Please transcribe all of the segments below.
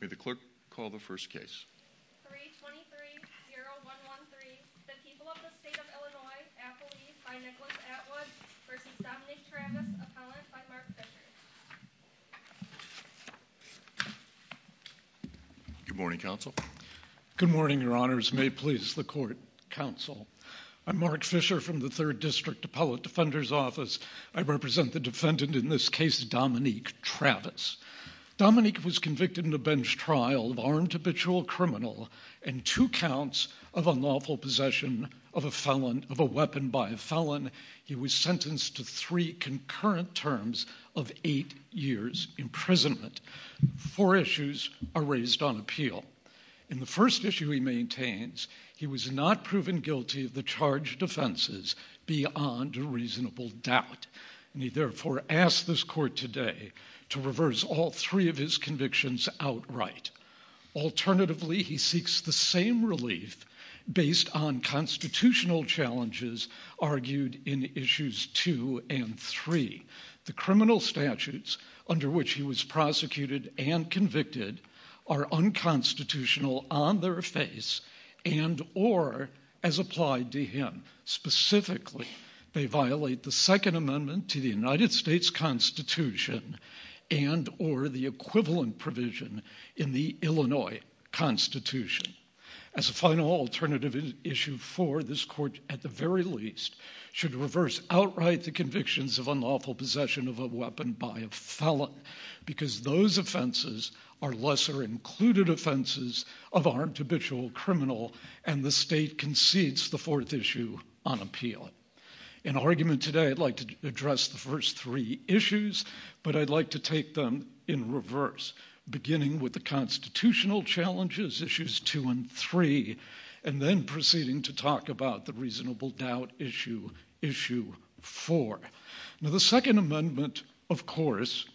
May the clerk call the first case 3 23 0 1 1 3 the people of the state of Illinois Appleby by Nicholas Atwood versus Dominic Travis appellant by Mark Fisher Good morning counsel. Good morning your honors may it please the court counsel. I'm Mark Fisher from the third district appellate defender's office. I represent the defendant in this case Dominique Travis. Dominique was convicted in a bench trial of armed habitual criminal and two counts of unlawful possession of a felon of a weapon by a felon. He was sentenced to three concurrent terms of eight years imprisonment. Four issues are raised on appeal. In the first issue he maintains he was not proven guilty of the charge defenses beyond a reasonable doubt and he therefore asked this court today to reverse all of his convictions outright. Alternatively he seeks the same relief based on constitutional challenges argued in issues two and three. The criminal statutes under which he was prosecuted and convicted are unconstitutional on their face and or as applied to him. Specifically they violate the second amendment to the United States Constitution and or the equivalent provision in the Illinois Constitution. As a final alternative issue for this court at the very least should reverse outright the convictions of unlawful possession of a weapon by a felon because those offenses are lesser included offenses of armed habitual criminal and the state concedes the fourth issue on appeal. In argument today I'd like to address the first three issues but I'd like to take them in reverse beginning with the constitutional challenges issues two and three and then proceeding to talk about the reasonable doubt issue issue four. Now the second amendment of course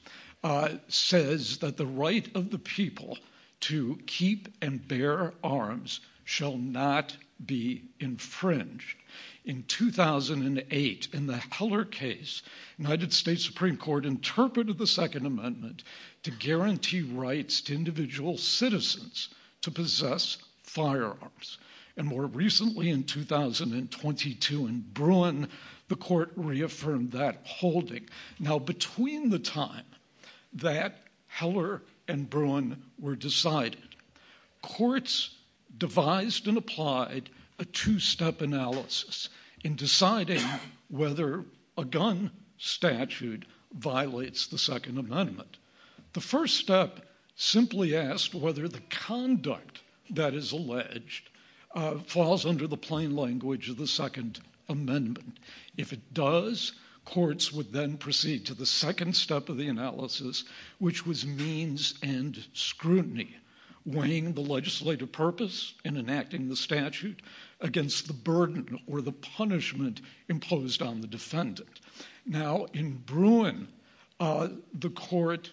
says that the right of the people to keep and bear arms shall not be infringed. In 2008 in the Heller case United States Supreme Court interpreted the second amendment to guarantee rights to individual citizens to possess firearms and more recently in 2022 in Bruin the court reaffirmed that holding. Now between the time that Heller and Bruin were decided courts devised and applied a two-step analysis in deciding whether a gun statute violates the second amendment. The first step simply asked whether the conduct that is alleged falls under the plain language of the second amendment. If it does courts would then proceed to the second step of the analysis which was means and scrutiny weighing the legislative purpose in enacting the statute against the burden or the punishment imposed on the defendant. Now in Bruin the court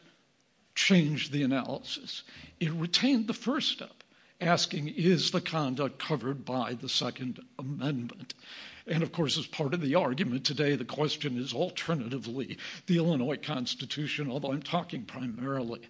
changed the analysis it retained the first step asking is the alternatively the Illinois constitution although I'm talking primarily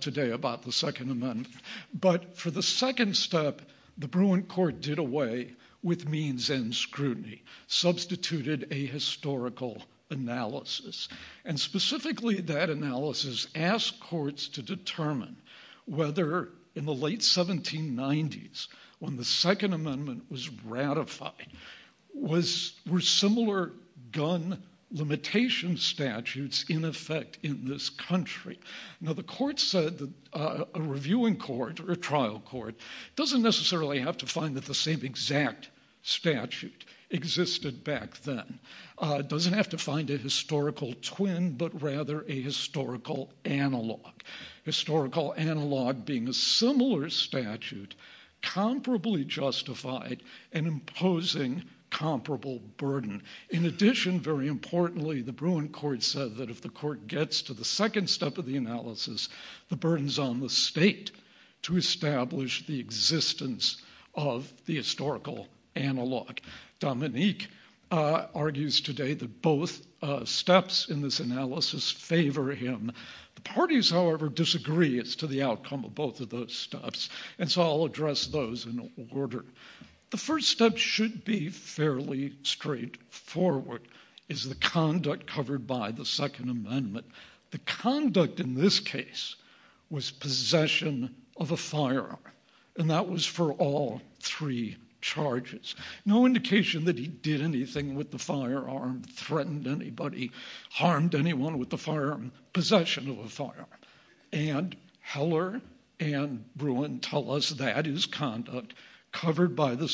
today about the second amendment but for the second step the Bruin court did away with means and scrutiny substituted a historical analysis and specifically that analysis asked courts to determine whether in the late 1790s when the second amendment was ratified was were similar gun limitation statutes in effect in this country. Now the court said that a reviewing court or a trial court doesn't necessarily have to find that the same exact statute existed back then. It doesn't have to find a historical twin but rather a historical analog. Historical analog being a similar statute comparably justified and imposing comparable burden. In addition very importantly the Bruin court said that if the court gets to the second step of the analysis the burdens on the state to establish the existence of historical analog. Dominique argues today that both steps in this analysis favor him. The parties however disagree as to the outcome of both of those steps and so I'll address those in order. The first step should be fairly straightforward is the conduct covered by the second amendment. The conduct in this case was possession of a firearm and that was for all three charges. No indication that he did anything with the firearm, threatened anybody, harmed anyone with the firearm, possession of a firearm and Heller and Bruin tell us that is conduct covered by the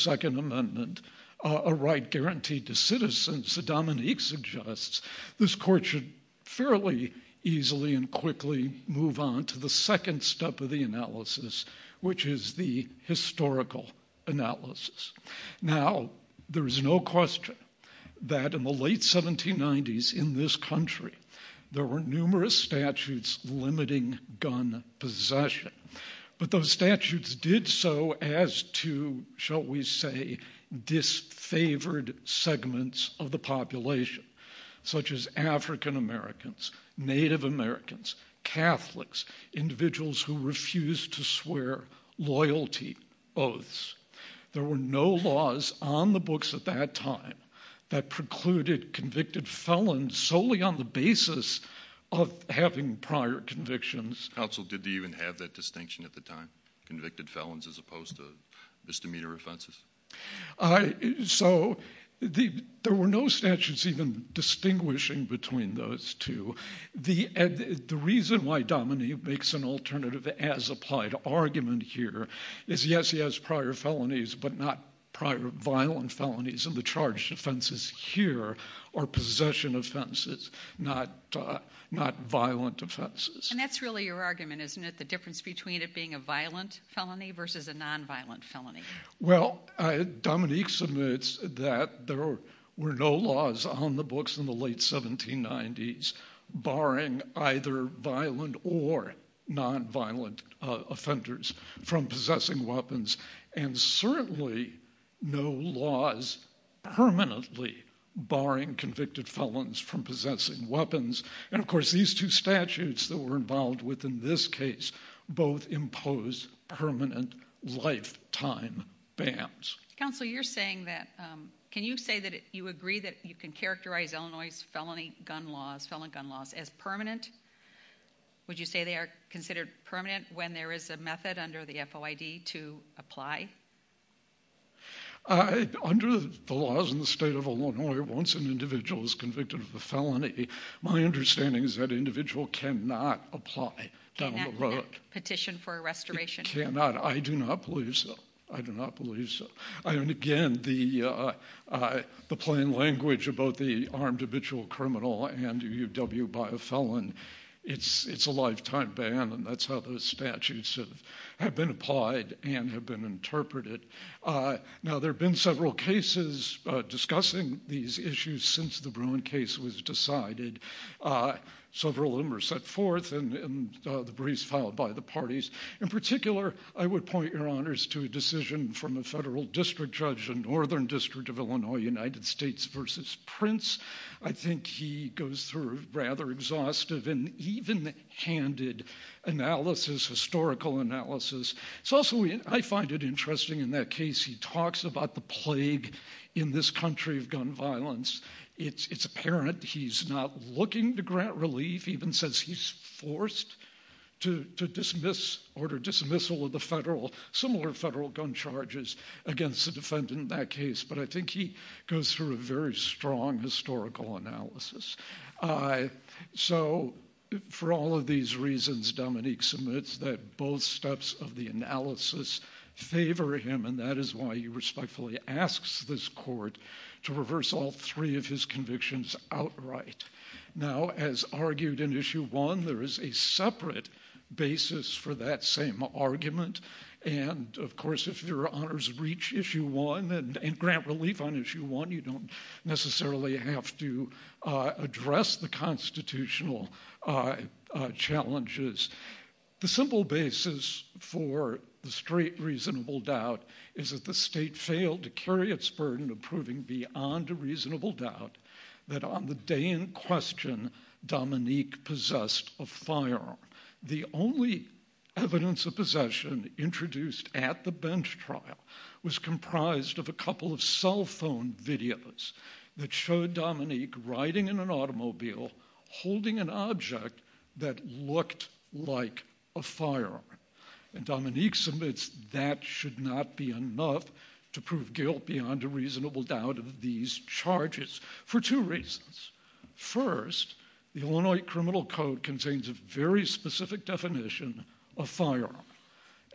easily and quickly move on to the second step of the analysis which is the historical analysis. Now there is no question that in the late 1790s in this country there were numerous statutes limiting gun possession but those statutes did so as to shall we say disfavored segments of the population such as African Americans, Native Americans, Catholics, individuals who refused to swear loyalty oaths. There were no laws on the books at that time that precluded convicted felons solely on the basis of having prior convictions. Counsel did they even have that distinction at the time convicted felons as opposed to the there were no statutes even distinguishing between those two. The reason why Dominique makes an alternative as applied argument here is yes he has prior felonies but not prior violent felonies and the charged offenses here are possession offenses not violent offenses. And that's really your argument isn't it the difference between it being a violent felony versus a nonviolent felony. Well Dominique submits that there were no laws on the books in the late 1790s barring either violent or nonviolent offenders from possessing weapons and certainly no laws permanently barring convicted felons from possessing weapons and of course these two statutes that we're involved with in this case both impose permanent lifetime bans. Counsel you're saying that can you say that you agree that you can characterize Illinois's felony gun laws felon gun laws as permanent. Would you say they are considered permanent when there is a method under the FOID to apply. Under the laws in the state of Illinois once an My understanding is that an individual cannot apply down the road. Petition for a restoration. I do not believe so. I do not believe so. And again the plain language about the armed habitual criminal and UW by a felon it's a lifetime ban and that's how those statutes have been applied and have been interpreted. Now there have been several cases discussing these issues since the Bruin case was decided. Several of them were set forth in the briefs filed by the parties. In particular I would point your honors to a decision from a federal district judge in northern district of Illinois United States versus Prince. I think he goes through rather exhaustive and even handed analysis historical analysis. It's also I find it interesting in that case he talks about the plague in this country of gun violence. It's apparent he's not looking to grant relief even since he's forced to dismiss order dismissal of the federal similar federal gun charges against the defendant in that case. But I think he goes through a very strong historical analysis. So for all of these reasons Dominique submits that both steps of the analysis favor him and that is why he respectfully asks this court to reverse all three of his convictions outright. Now as argued in issue one there is a separate basis for that same argument and of course if your honors reach issue one and grant relief on issue one you don't necessarily have to address the constitutional challenges. The simple basis for the straight reasonable doubt is that the state failed to carry its burden of proving beyond a reasonable doubt that on the day in question Dominique possessed a firearm. The only evidence of possession introduced at the bench trial was comprised of a couple of cell phone videos that showed Dominique riding in an automobile holding an object that looked like a firearm and Dominique submits that should not be enough to prove guilt beyond a reasonable doubt of these charges for two reasons. First the Illinois criminal code contains a very specific definition of firearm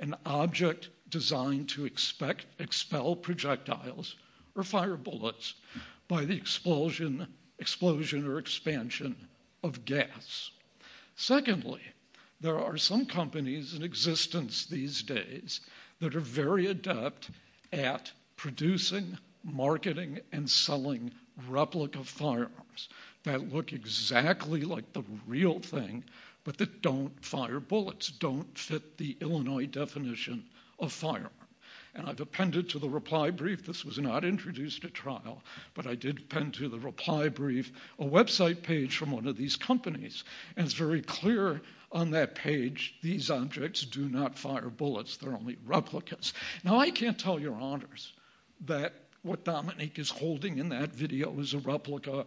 an object designed to expect expel projectiles or fire bullets by the explosion explosion or expansion of gas. Secondly there are some companies in existence these days that are very adept at producing marketing and selling replica firearms that look exactly like the real thing but that fire bullets don't fit the Illinois definition of firearm and I've appended to the reply brief this was not introduced at trial but I did append to the reply brief a website page from one of these companies and it's very clear on that page these objects do not fire bullets they're only replicas. Now I can't tell your honors that what Dominique is holding in that video is a replica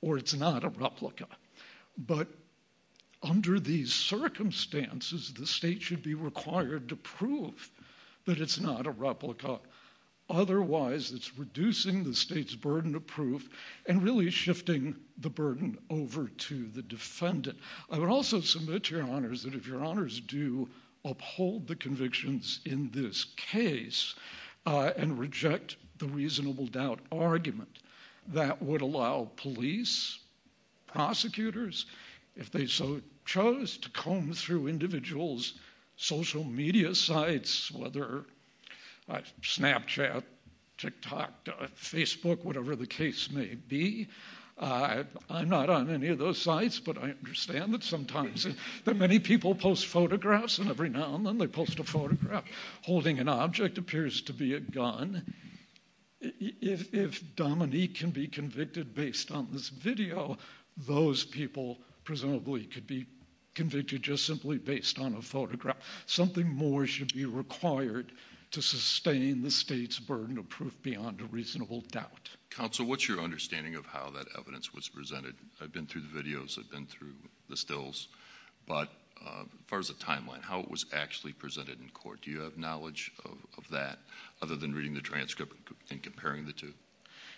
or it's not a replica but under these circumstances the state should be required to prove that it's not a replica otherwise it's reducing the state's burden of proof and really shifting the burden over to the defendant. I would also submit to your honors that if your honors do uphold the convictions in this case and reject the reasonable doubt argument that would allow police prosecutors if they so chose to comb through individuals social media sites whether Snapchat, TikTok, Facebook, whatever the case may be. I'm not on any of those sites but I understand that sometimes that many people post photographs and every now and then they post a photograph holding an object appears to be a gun. If Dominique can be convicted based on this video those people presumably could be convicted just simply based on a photograph something more should be required to sustain the state's burden of proof beyond a reasonable doubt. Counsel what's your understanding of how that evidence was presented? I've been through the videos I've been through the stills but as far as the timeline how it was actually presented in court do you have knowledge of that other than reading the transcript and comparing the two?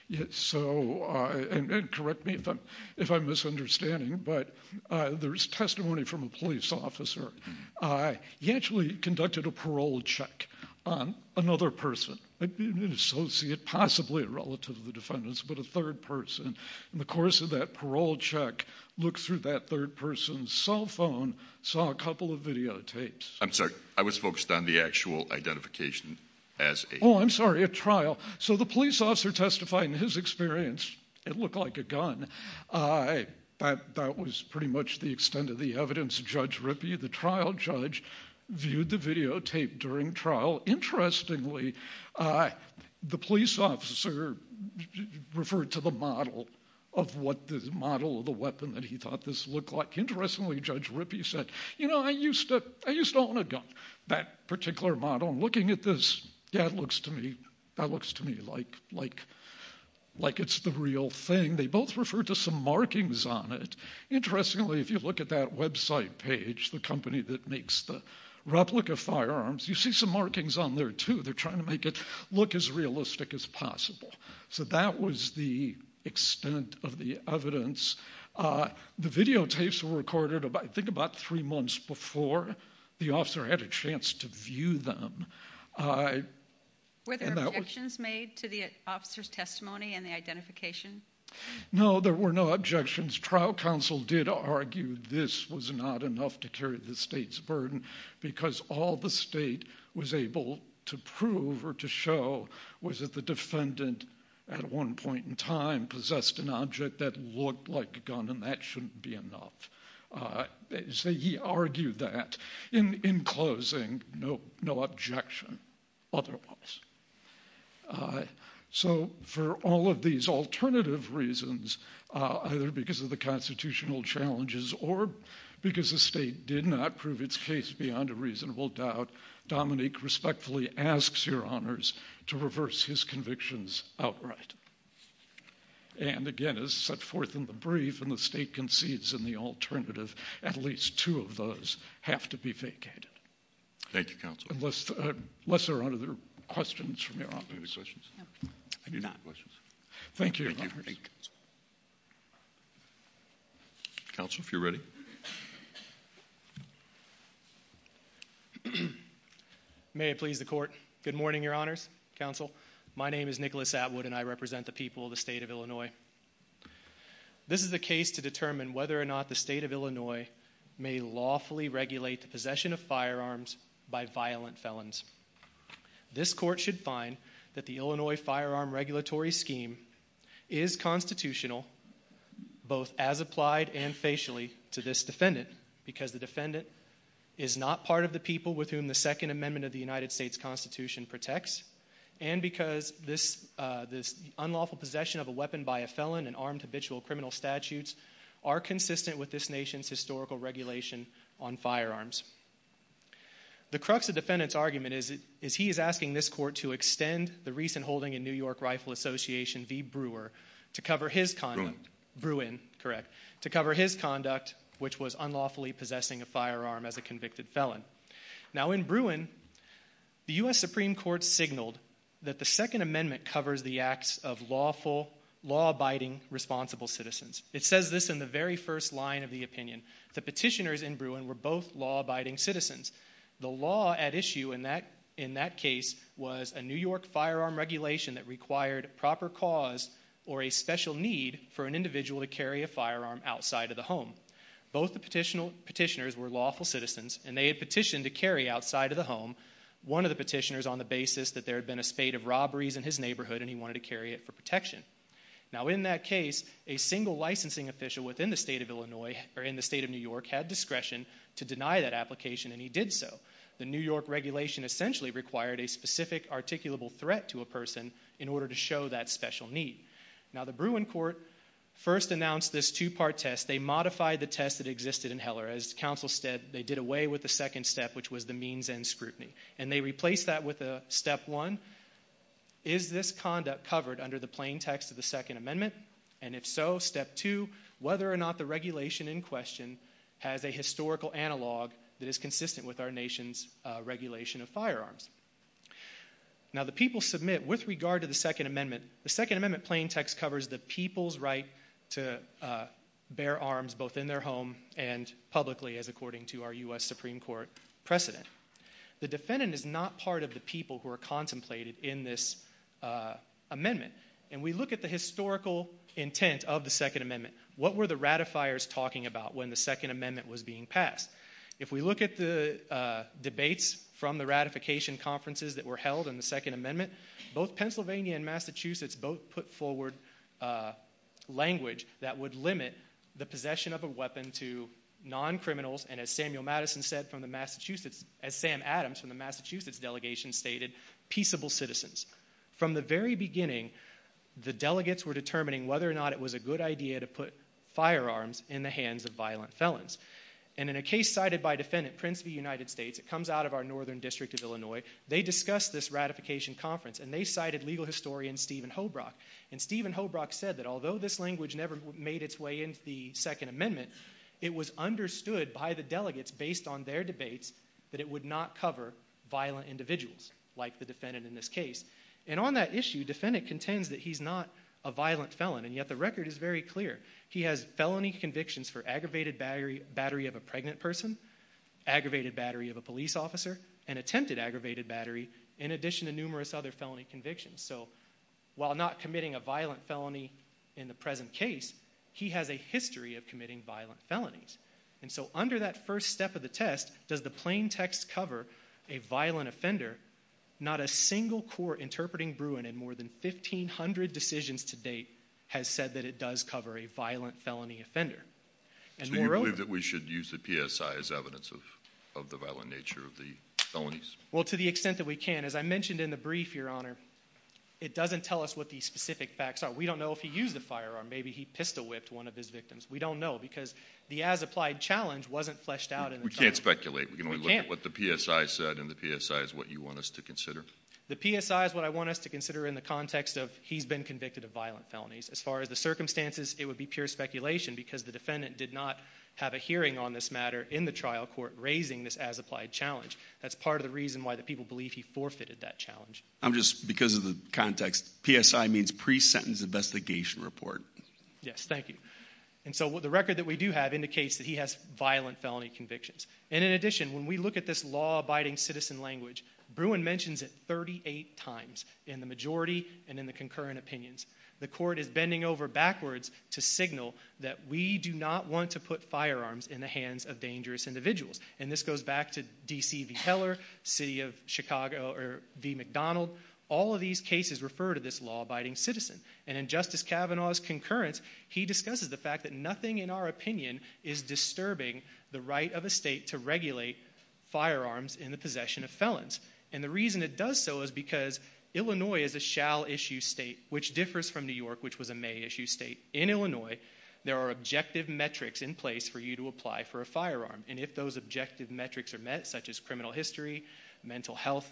Yes so and correct me if I'm if I'm misunderstanding but there's testimony from a police officer. He actually conducted a parole check on another person an associate possibly a relative of the defendant's but a third person in the course of that parole check looked through that third person's cell phone saw a couple of videotapes. I'm sorry I was focused on the actual identification as. Oh I'm sorry a trial so the police officer testified in his experience it looked like a gun. That was pretty much the extent of the evidence Judge Rippey the trial judge viewed the videotape during trial. Interestingly the police officer referred to the model of what the model of the weapon that he thought this looked like. Interestingly Judge Rippey said you know I used to I used to own a gun that particular model and looking at this that looks to me that looks to me like like like it's the real thing. They both referred to some replica firearms. You see some markings on there too. They're trying to make it look as realistic as possible. So that was the extent of the evidence. The videotapes were recorded about I think about three months before the officer had a chance to view them. Were there objections made to the officer's testimony and the identification? No there were no objections. Trial counsel did argue this was not enough to carry the state's because all the state was able to prove or to show was that the defendant at one point in time possessed an object that looked like a gun and that shouldn't be enough. So he argued that in in closing no no objection otherwise. So for all of these alternative reasons either because of the constitutional challenges or because the state did not prove its case beyond a reasonable doubt Dominique respectfully asks your honors to reverse his convictions outright. And again as set forth in the brief and the state concedes in the alternative at least two of those have to be vacated. Thank you counsel. Unless there are other questions from your office. Any questions? I do not. Thank you. Counsel if you're ready. May it please the court. Good morning your honors. Counsel my name is Nicholas Atwood and I represent the people of the state of Illinois. This is a case to determine whether or not the possession of firearms by violent felons. This court should find that the Illinois firearm regulatory scheme is constitutional both as applied and facially to this defendant because the defendant is not part of the people with whom the Second Amendment of the United States Constitution protects and because this this unlawful possession of a weapon by a felon and armed habitual criminal statutes are consistent with this nation's historical regulation on firearms. The crux of defendant's argument is it is he is asking this court to extend the recent holding in New York Rifle Association v Brewer to cover his conduct. Bruin. Correct. To cover his conduct which was unlawfully possessing a firearm as a convicted felon. Now in Bruin the U.S. Supreme Court signaled that the Second Amendment covers the acts of lawful law-abiding responsible citizens. It says this in the very first line of the opinion. The petitioners in Bruin were both law-abiding citizens. The law at issue in that in that case was a New York firearm regulation that required proper cause or a special need for an individual to carry a firearm outside of the home. Both the petitioner petitioners were lawful citizens and they had petitioned to carry outside of the home one of the petitioners on the basis that there had been a spate of robberies in his neighborhood and he wanted to carry it for protection. Now in that case a single licensing official within the state of Illinois or in the state of New York had discretion to deny that application and he did so. The New York regulation essentially required a specific articulable threat to a person in order to show that special need. Now the Bruin court first announced this two-part test. They modified the test that existed in Heller as counsel said they did away with the second step which was the means end scrutiny and they replaced that with a step one. Is this conduct covered under the plain text of the second amendment and if so step two whether or not the regulation in question has a historical analog that is consistent with our nation's regulation of firearms. Now the people submit with regard to the second amendment the second amendment plain text covers the people's right to bear arms both in their home and publicly as according to our U.S. Supreme Court precedent. The defendant is not part of the people who are contemplated in this amendment and we look at the historical intent of the second amendment what were the ratifiers talking about when the second amendment was being passed. If we look at the debates from the ratification conferences that were held in the second amendment both Pennsylvania and Massachusetts both put forward language that would limit the possession of a weapon to non-criminals and as Sam Adams from the Massachusetts delegation stated peaceable citizens. From the very beginning the delegates were determining whether or not it was a good idea to put firearms in the hands of violent felons and in a case cited by defendant Prince v. United States it comes out of our northern district of Illinois they discussed this ratification conference and they cited legal historian Stephen Hobrock and Stephen Hobrock said that although this language never made its way into the second amendment it was understood by the delegates based on their debates that it would not cover violent individuals like the defendant in this case and on that issue defendant contends that he's not a violent felon and yet the record is very clear he has felony convictions for aggravated battery battery of a pregnant person aggravated battery of a police officer and attempted aggravated battery in addition to numerous other felony convictions so while not history of committing violent felonies and so under that first step of the test does the plain text cover a violent offender not a single court interpreting Bruin in more than 1500 decisions to date has said that it does cover a violent felony offender and moreover that we should use the PSI as evidence of of the violent nature of the felonies well to the extent that we can as I mentioned in the brief your honor it doesn't tell us what these specific facts are we don't know if firearm maybe he pistol whipped one of his victims we don't know because the as applied challenge wasn't fleshed out and we can't speculate we can only look at what the PSI said and the PSI is what you want us to consider the PSI is what I want us to consider in the context of he's been convicted of violent felonies as far as the circumstances it would be pure speculation because the defendant did not have a hearing on this matter in the trial court raising this as applied challenge that's part of the reason why the people believe he forfeited that challenge I'm just because of the context PSI means pre-sentence investigation report yes thank you and so the record that we do have indicates that he has violent felony convictions and in addition when we look at this law abiding citizen language Bruin mentions it 38 times in the majority and in the concurrent opinions the court is bending over backwards to signal that we do not want to put firearms in the hands of dangerous individuals and this goes back to DC v Keller city of Chicago or v McDonald all of these cases refer to this law abiding citizen and in Justice Kavanaugh's concurrence he discusses the fact that nothing in our opinion is disturbing the right of a state to regulate firearms in the possession of felons and the reason it does so is because Illinois is a shall issue state which differs from New York which was a may issue state in Illinois there are objective metrics in place for you to apply for a firearm and if those objective metrics are met such as criminal history mental health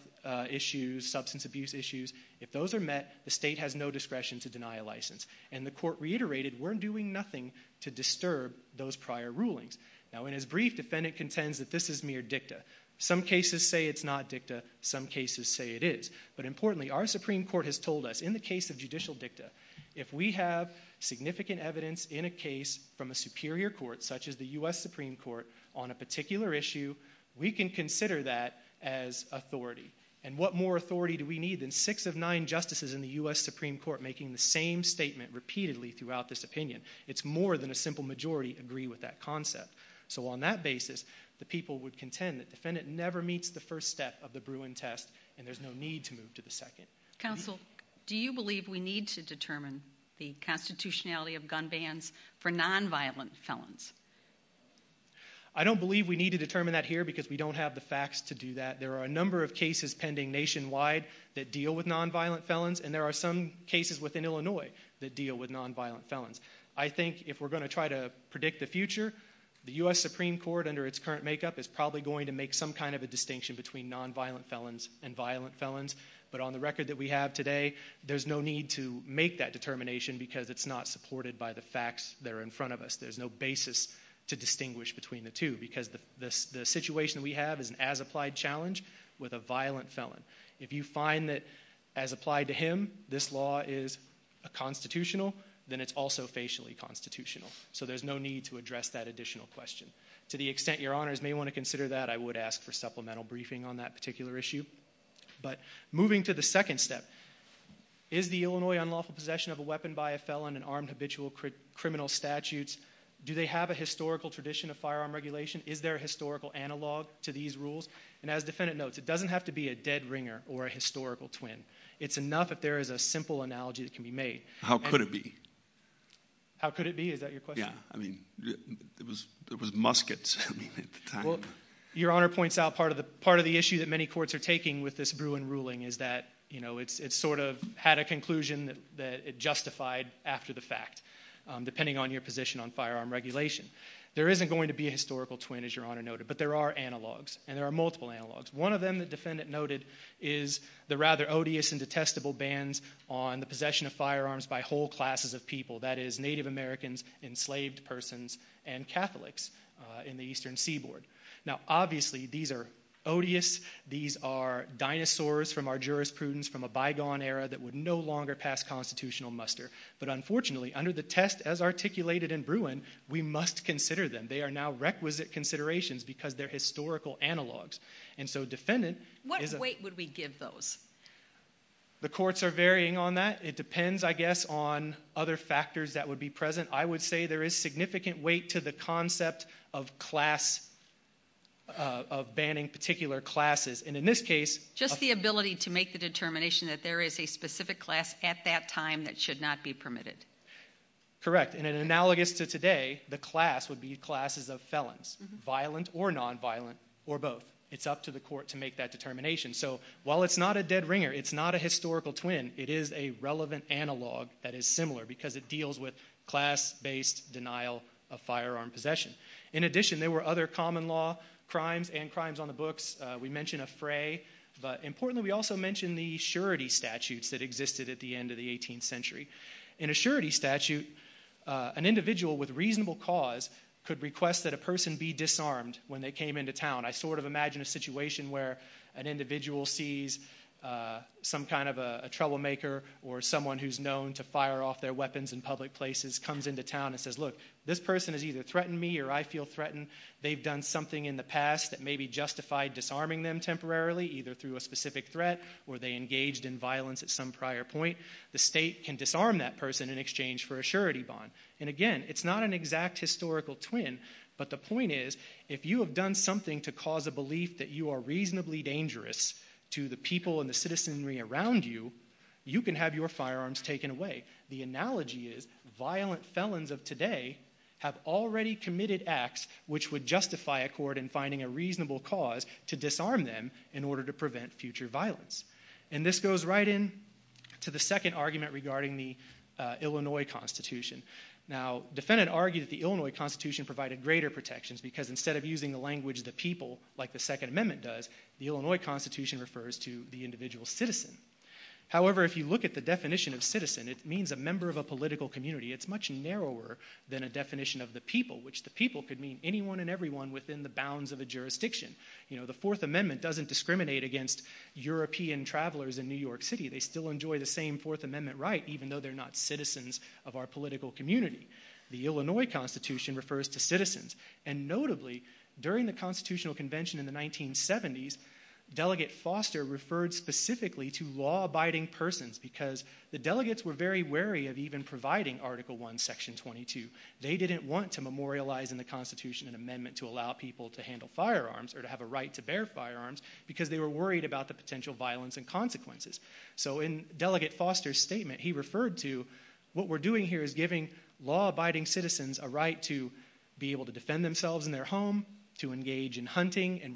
issues substance abuse issues if those are met the state has no discretion to deny a license and the court reiterated we're doing nothing to disturb those prior rulings now in his brief defendant contends that this is mere dicta some cases say it's not dicta some cases say it is but importantly our supreme court has told us in the case of judicial dicta if we have significant evidence in a case from a superior court such as the U.S. Supreme Court on a particular issue we can consider that as authority and what more authority do we need than six of nine justices in the U.S. Supreme Court making the same statement repeatedly throughout this opinion it's more than a simple majority agree with that concept so on that basis the people would contend that defendant never meets the first step of the Bruin test and there's no need to move to the second. Counsel do you believe we need to determine the constitutionality of gun bans for non-violent felons? I don't believe we need to determine that here because we don't have the facts to do that there are a number of cases pending nationwide that deal with non-violent felons and there are some cases within Illinois that deal with non-violent felons. I think if we're going to try to predict the future the U.S. Supreme Court under its current makeup is probably going to make some kind of a distinction between non-violent felons and violent felons but on the record that we have today there's no need to make that determination because it's not supported by the facts that are in front of us there's no basis to distinguish between the two because the situation we have is an as applied challenge with a violent felon if you find that as applied to him this law is a constitutional then it's also facially constitutional so there's no need to address that additional question to the extent your honors may want to consider that I would ask for supplemental briefing on that particular issue but moving to the second step is the Illinois unlawful possession of a weapon by a felon and armed habitual criminal statutes do they have a historical tradition of firearm regulation is there a historical analog to these rules and as defendant notes it doesn't have to be a dead ringer or a historical twin it's enough if there is a simple analogy that can be made how could it be how could it be is that your question I mean it was there was muskets well your honor points out part of the part of the issue that many courts are taking with this Bruin ruling is that you know it's it's sort of had a conclusion that it justified after the fact depending on your position on firearm regulation there isn't going to be a historical twin as your honor noted but there are analogs and there are multiple analogs one of them the defendant noted is the rather odious and detestable bans on the possession of firearms by whole classes of people that is native americans enslaved persons and catholics in the eastern seaboard now obviously these are odious these are dinosaurs from our jurisprudence from a bygone era that would no longer pass constitutional muster but unfortunately under the test as articulated in Bruin we must consider them they are now requisite considerations because they're historical analogs and so defendant what weight would we give those the courts are varying on that it other factors that would be present i would say there is significant weight to the concept of class of banning particular classes and in this case just the ability to make the determination that there is a specific class at that time that should not be permitted correct in an analogous to today the class would be classes of felons violent or non-violent or both it's up to the court to make that determination so while it's not a dead ringer it's not a similar because it deals with class-based denial of firearm possession in addition there were other common law crimes and crimes on the books we mention a fray but importantly we also mention the surety statutes that existed at the end of the 18th century in a surety statute an individual with reasonable cause could request that a person be disarmed when they came into town i sort of imagine a situation where an individual sees some kind of a troublemaker or someone who's known to fire off their weapons in public places comes into town and says look this person has either threatened me or i feel threatened they've done something in the past that may be justified disarming them temporarily either through a specific threat or they engaged in violence at some prior point the state can disarm that person in exchange for a surety bond and again it's not an exact historical twin but the point is if you have done something to cause a belief that you are reasonably dangerous to the people and the citizenry around you you can have your firearms taken away the analogy is violent felons of today have already committed acts which would justify a court in finding a reasonable cause to disarm them in order to prevent future violence and this goes right in to the second argument regarding the illinois constitution now defendant argued that the illinois constitution provided greater protections because instead of using the language the people like the second amendment does the illinois constitution refers to the definition of citizen it means a member of a political community it's much narrower than a definition of the people which the people could mean anyone and everyone within the bounds of a jurisdiction you know the fourth amendment doesn't discriminate against european travelers in new york city they still enjoy the same fourth amendment right even though they're not citizens of our political community the illinois constitution refers to citizens and notably during the constitutional convention in the 1970s delegate foster referred specifically to law-abiding persons because the delegates were very wary of even providing article 1 section 22 they didn't want to memorialize in the constitution an amendment to allow people to handle firearms or to have a right to bear firearms because they were worried about the potential violence and consequences so in delegate foster's statement he referred to what we're doing here is giving law-abiding citizens a right to be able to defend themselves in their home to engage in hunting and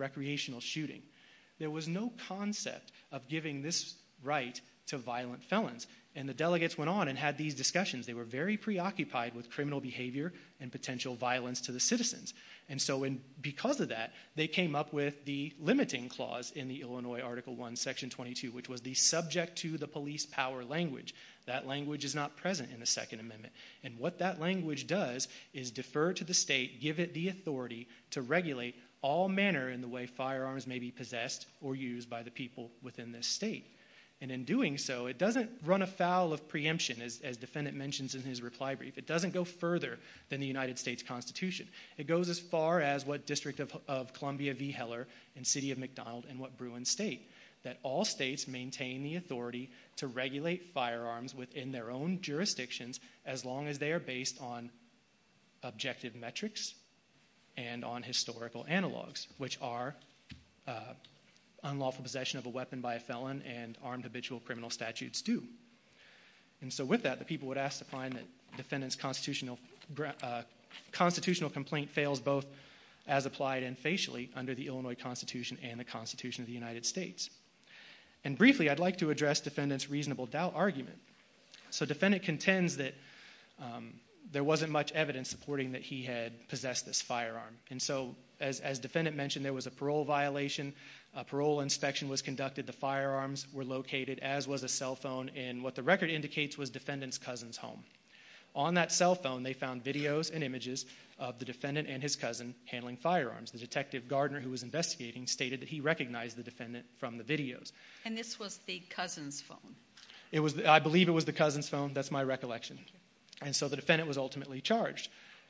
to violent felons and the delegates went on and had these discussions they were very preoccupied with criminal behavior and potential violence to the citizens and so in because of that they came up with the limiting clause in the illinois article 1 section 22 which was the subject to the police power language that language is not present in the second amendment and what that language does is defer to the state give it the authority to regulate all manner in the way firearms may be possessed or used by the people within this state and in doing so it doesn't run afoul of preemption as defendant mentions in his reply brief it doesn't go further than the united states constitution it goes as far as what district of columbia v heller and city of mcdonald and what bruin state that all states maintain the authority to regulate firearms within their own jurisdictions as long as they are based on objective metrics and on historical analogs which are unlawful possession of a weapon by a felon and armed habitual criminal statutes do and so with that the people would ask to find that defendant's constitutional constitutional complaint fails both as applied and facially under the illinois constitution and the constitution of the united states and briefly i'd like to address defendant's reasonable doubt so defendant contends that there wasn't much evidence supporting that he had possessed this firearm and so as as defendant mentioned there was a parole violation a parole inspection was conducted the firearms were located as was a cell phone and what the record indicates was defendant's cousin's home on that cell phone they found videos and images of the defendant and his cousin handling firearms the detective gardner who was investigating stated that he recognized the i believe it was the cousin's phone that's my recollection and so the defendant was ultimately charged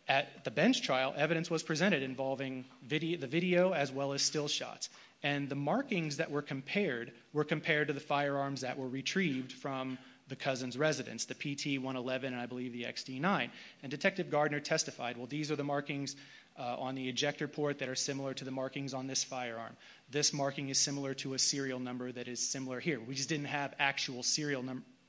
at the bench trial evidence was presented involving video the video as well as still shots and the markings that were compared were compared to the firearms that were retrieved from the cousin's residence the pt 111 and i believe the xt9 and detective gardner testified well these are the markings on the ejector port that are similar to the markings on this firearm this marking is similar to a serial number that is similar here we just didn't have actual serial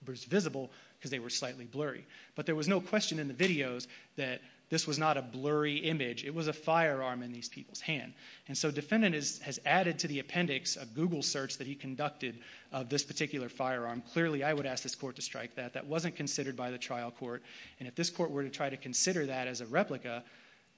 visible because they were slightly blurry but there was no question in the videos that this was not a blurry image it was a firearm in these people's hand and so defendant is has added to the appendix a google search that he conducted of this particular firearm clearly i would ask this court to strike that that wasn't considered by the trial court and if this court were to try to consider that as a replica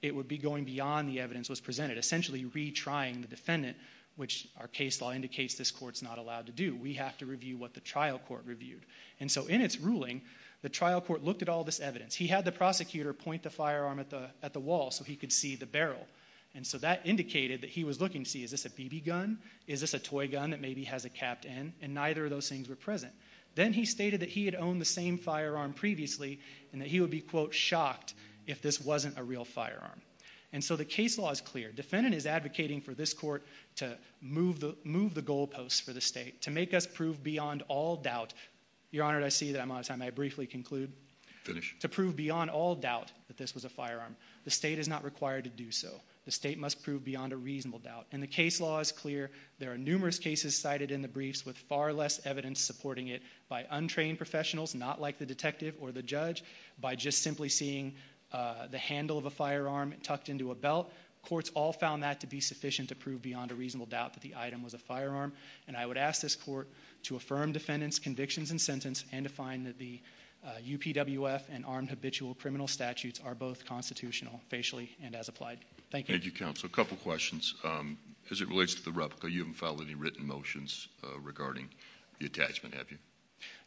it would be going beyond the evidence was presented essentially retrying the defendant which our case law indicates this court's not allowed to do we have to review what the trial court reviewed and so in its ruling the trial court looked at all this evidence he had the prosecutor point the firearm at the at the wall so he could see the barrel and so that indicated that he was looking to see is this a bb gun is this a toy gun that maybe has a capped end and neither of those things were present then he stated that he had owned the same firearm previously and that he would be quote shocked if this wasn't a real firearm and so the case law is clear defendant is advocating for this court to move the move the goal posts for the state to make us prove beyond all doubt your honor i see that i'm out of time i briefly conclude finish to prove beyond all doubt that this was a firearm the state is not required to do so the state must prove beyond a reasonable doubt and the case law is clear there are numerous cases cited in the briefs with far less evidence supporting it by untrained professionals not like the detective or the judge by just simply seeing the handle of a firearm tucked into a belt courts all found that to be sufficient to prove beyond a defendant's convictions and sentence and to find that the uh upwf and armed habitual criminal statutes are both constitutional facially and as applied thank you thank you counsel a couple questions um as it relates to the replica you haven't filed any written motions uh regarding the attachment have you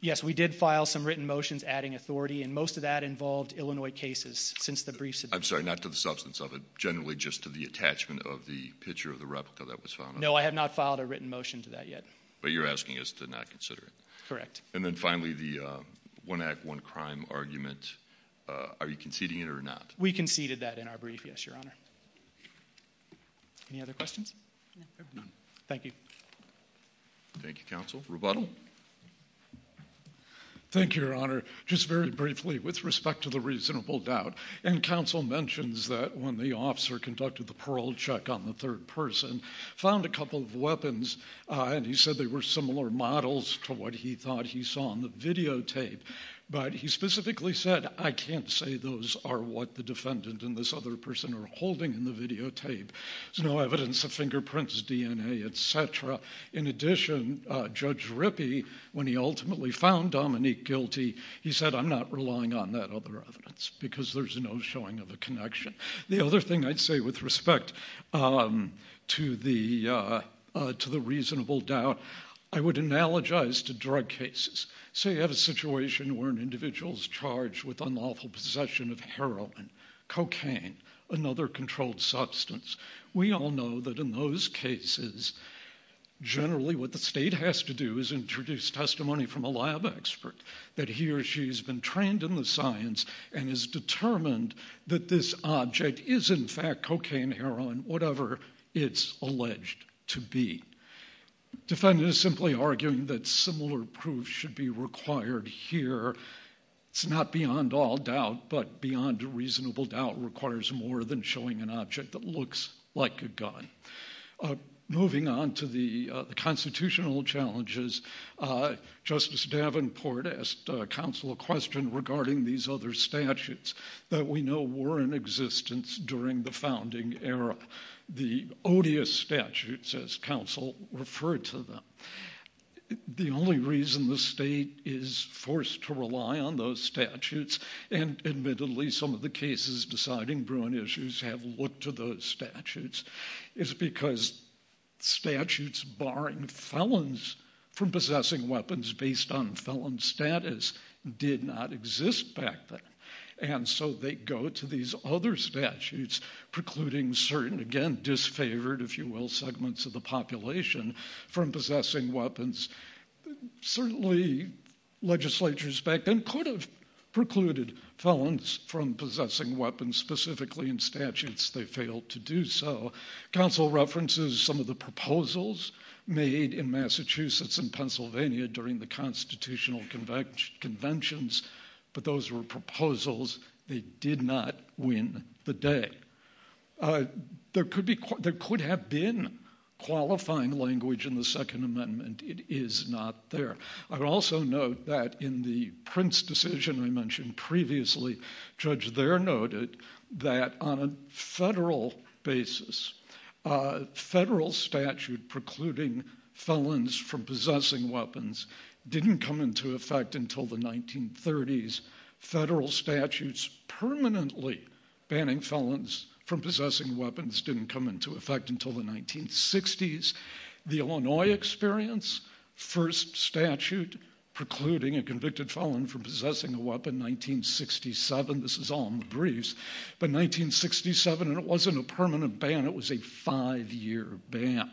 yes we did file some written motions adding authority and most of that involved illinois cases since the briefs i'm sorry not to the substance of it generally just to the attachment of the picture of the replica that was found no i have not filed a written motion to but you're asking us to not consider it correct and then finally the uh one act one crime argument are you conceding it or not we conceded that in our brief yes your honor any other questions thank you thank you counsel rebuttal thank you your honor just very briefly with respect to the reasonable doubt and counsel mentions that when the officer conducted the parole check on the third person found a couple of weapons uh and he said they were similar models to what he thought he saw on the videotape but he specifically said i can't say those are what the defendant and this other person are holding in the videotape there's no evidence of fingerprints dna etc in addition uh judge rippy when he ultimately found dominique guilty he said i'm not relying on that other evidence because there's no showing of a connection the other thing i'd say with respect um to the uh to the reasonable doubt i would analogize to drug cases say you have a situation where an individual's charged with unlawful possession of heroin cocaine another controlled substance we all know that in those cases generally what the state has to do is introduce testimony from a lab expert that he or she has been trained in the science and is determined that this object is in fact cocaine heroin whatever it's alleged to be defendant is simply arguing that similar proof should be required here it's not beyond all doubt but beyond reasonable doubt requires more than showing an object that looks like a gun moving on to the constitutional challenges uh justice davenport asked counsel a question regarding these other statutes that we know were in existence during the founding era the odious statutes as counsel referred to them the only reason the state is forced to rely on those statutes and admittedly some of the cases deciding bruin issues have looked to those statutes is because statutes barring felons from possessing weapons based on felon status did not exist back then and so they go to these other statutes precluding certain again disfavored if you will segments of the population from possessing weapons certainly legislatures back then could have precluded felons from possessing weapons specifically in statutes they failed to do so council references some of the proposals made in massachusetts and pennsylvania during the constitutional convention conventions but those were proposals they did not win the day uh there could be there could have been qualifying language in the second amendment it is not there i would also note that in the prince decision i mentioned previously judge there noted that on a federal basis a federal statute precluding felons from possessing weapons didn't come into effect until the 1930s federal statutes permanently banning felons from possessing weapons didn't come into effect until the 1960s the illinois experience first statute precluding a convicted felon from possessing a weapon 1967 this is all in the briefs but 1967 and it wasn't a permanent ban it was a five-year ban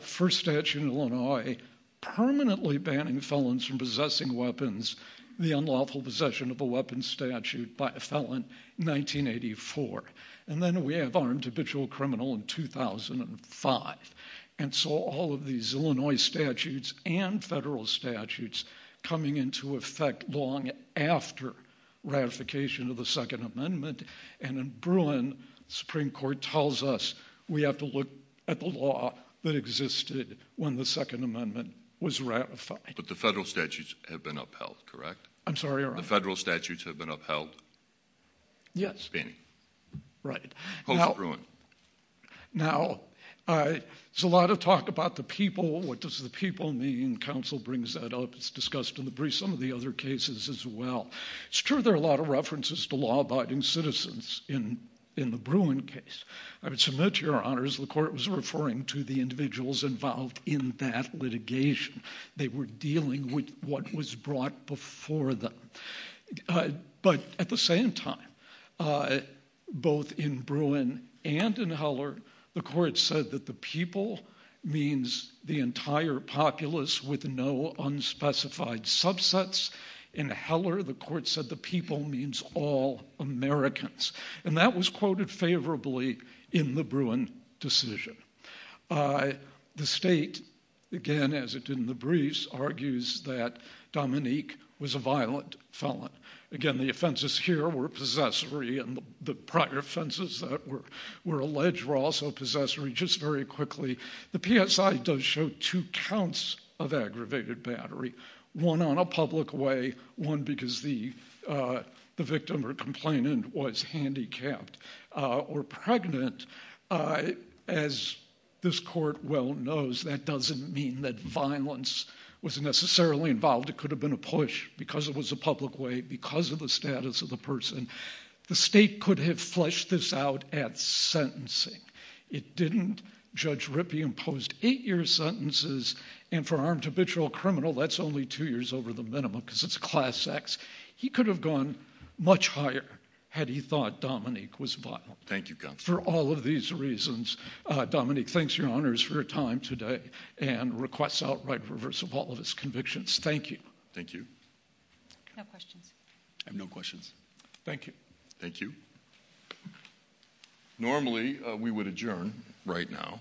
first statute illinois permanently banning felons from possessing weapons the unlawful possession of a weapon statute by a felon 1984 and then we have armed habitual criminal in 2005 and so all of these illinois statutes and federal statutes coming into effect long after ratification of the second amendment and in bruin supreme court tells us we have to look at the law that existed when the second amendment was ratified but the federal statutes have been upheld correct i'm sorry the federal statutes have been upheld yes benny right now uh there's a lot of talk about the people what does the people mean council brings that up it's some of the other cases as well it's true there are a lot of references to law-abiding citizens in in the bruin case i would submit to your honors the court was referring to the individuals involved in that litigation they were dealing with what was brought before them but at the same time both in bruin and in heller the court said that the people means the entire populace with no unspecified subsets in heller the court said the people means all americans and that was quoted favorably in the bruin decision uh the state again as it did in the briefs argues that dominique was a violent felon again the offenses here were possessory and the prior offenses that were alleged were also possessory just very quickly the psi does show two counts of aggravated battery one on a public way one because the uh the victim or complainant was handicapped uh or pregnant as this court well knows that doesn't mean that violence was necessarily involved it could have been a push because it was a public way because of the status of the person the state could have fleshed this out at sentencing it didn't judge rippy imposed eight years sentences and for armed habitual criminal that's only two years over the minimum because it's class x he could have gone much higher had he thought dominique was violent thank you for all of these reasons uh dominique thanks your honors for your time today and requests outright reverse of all convictions thank you thank you no questions i have no questions thank you thank you normally we would adjourn right now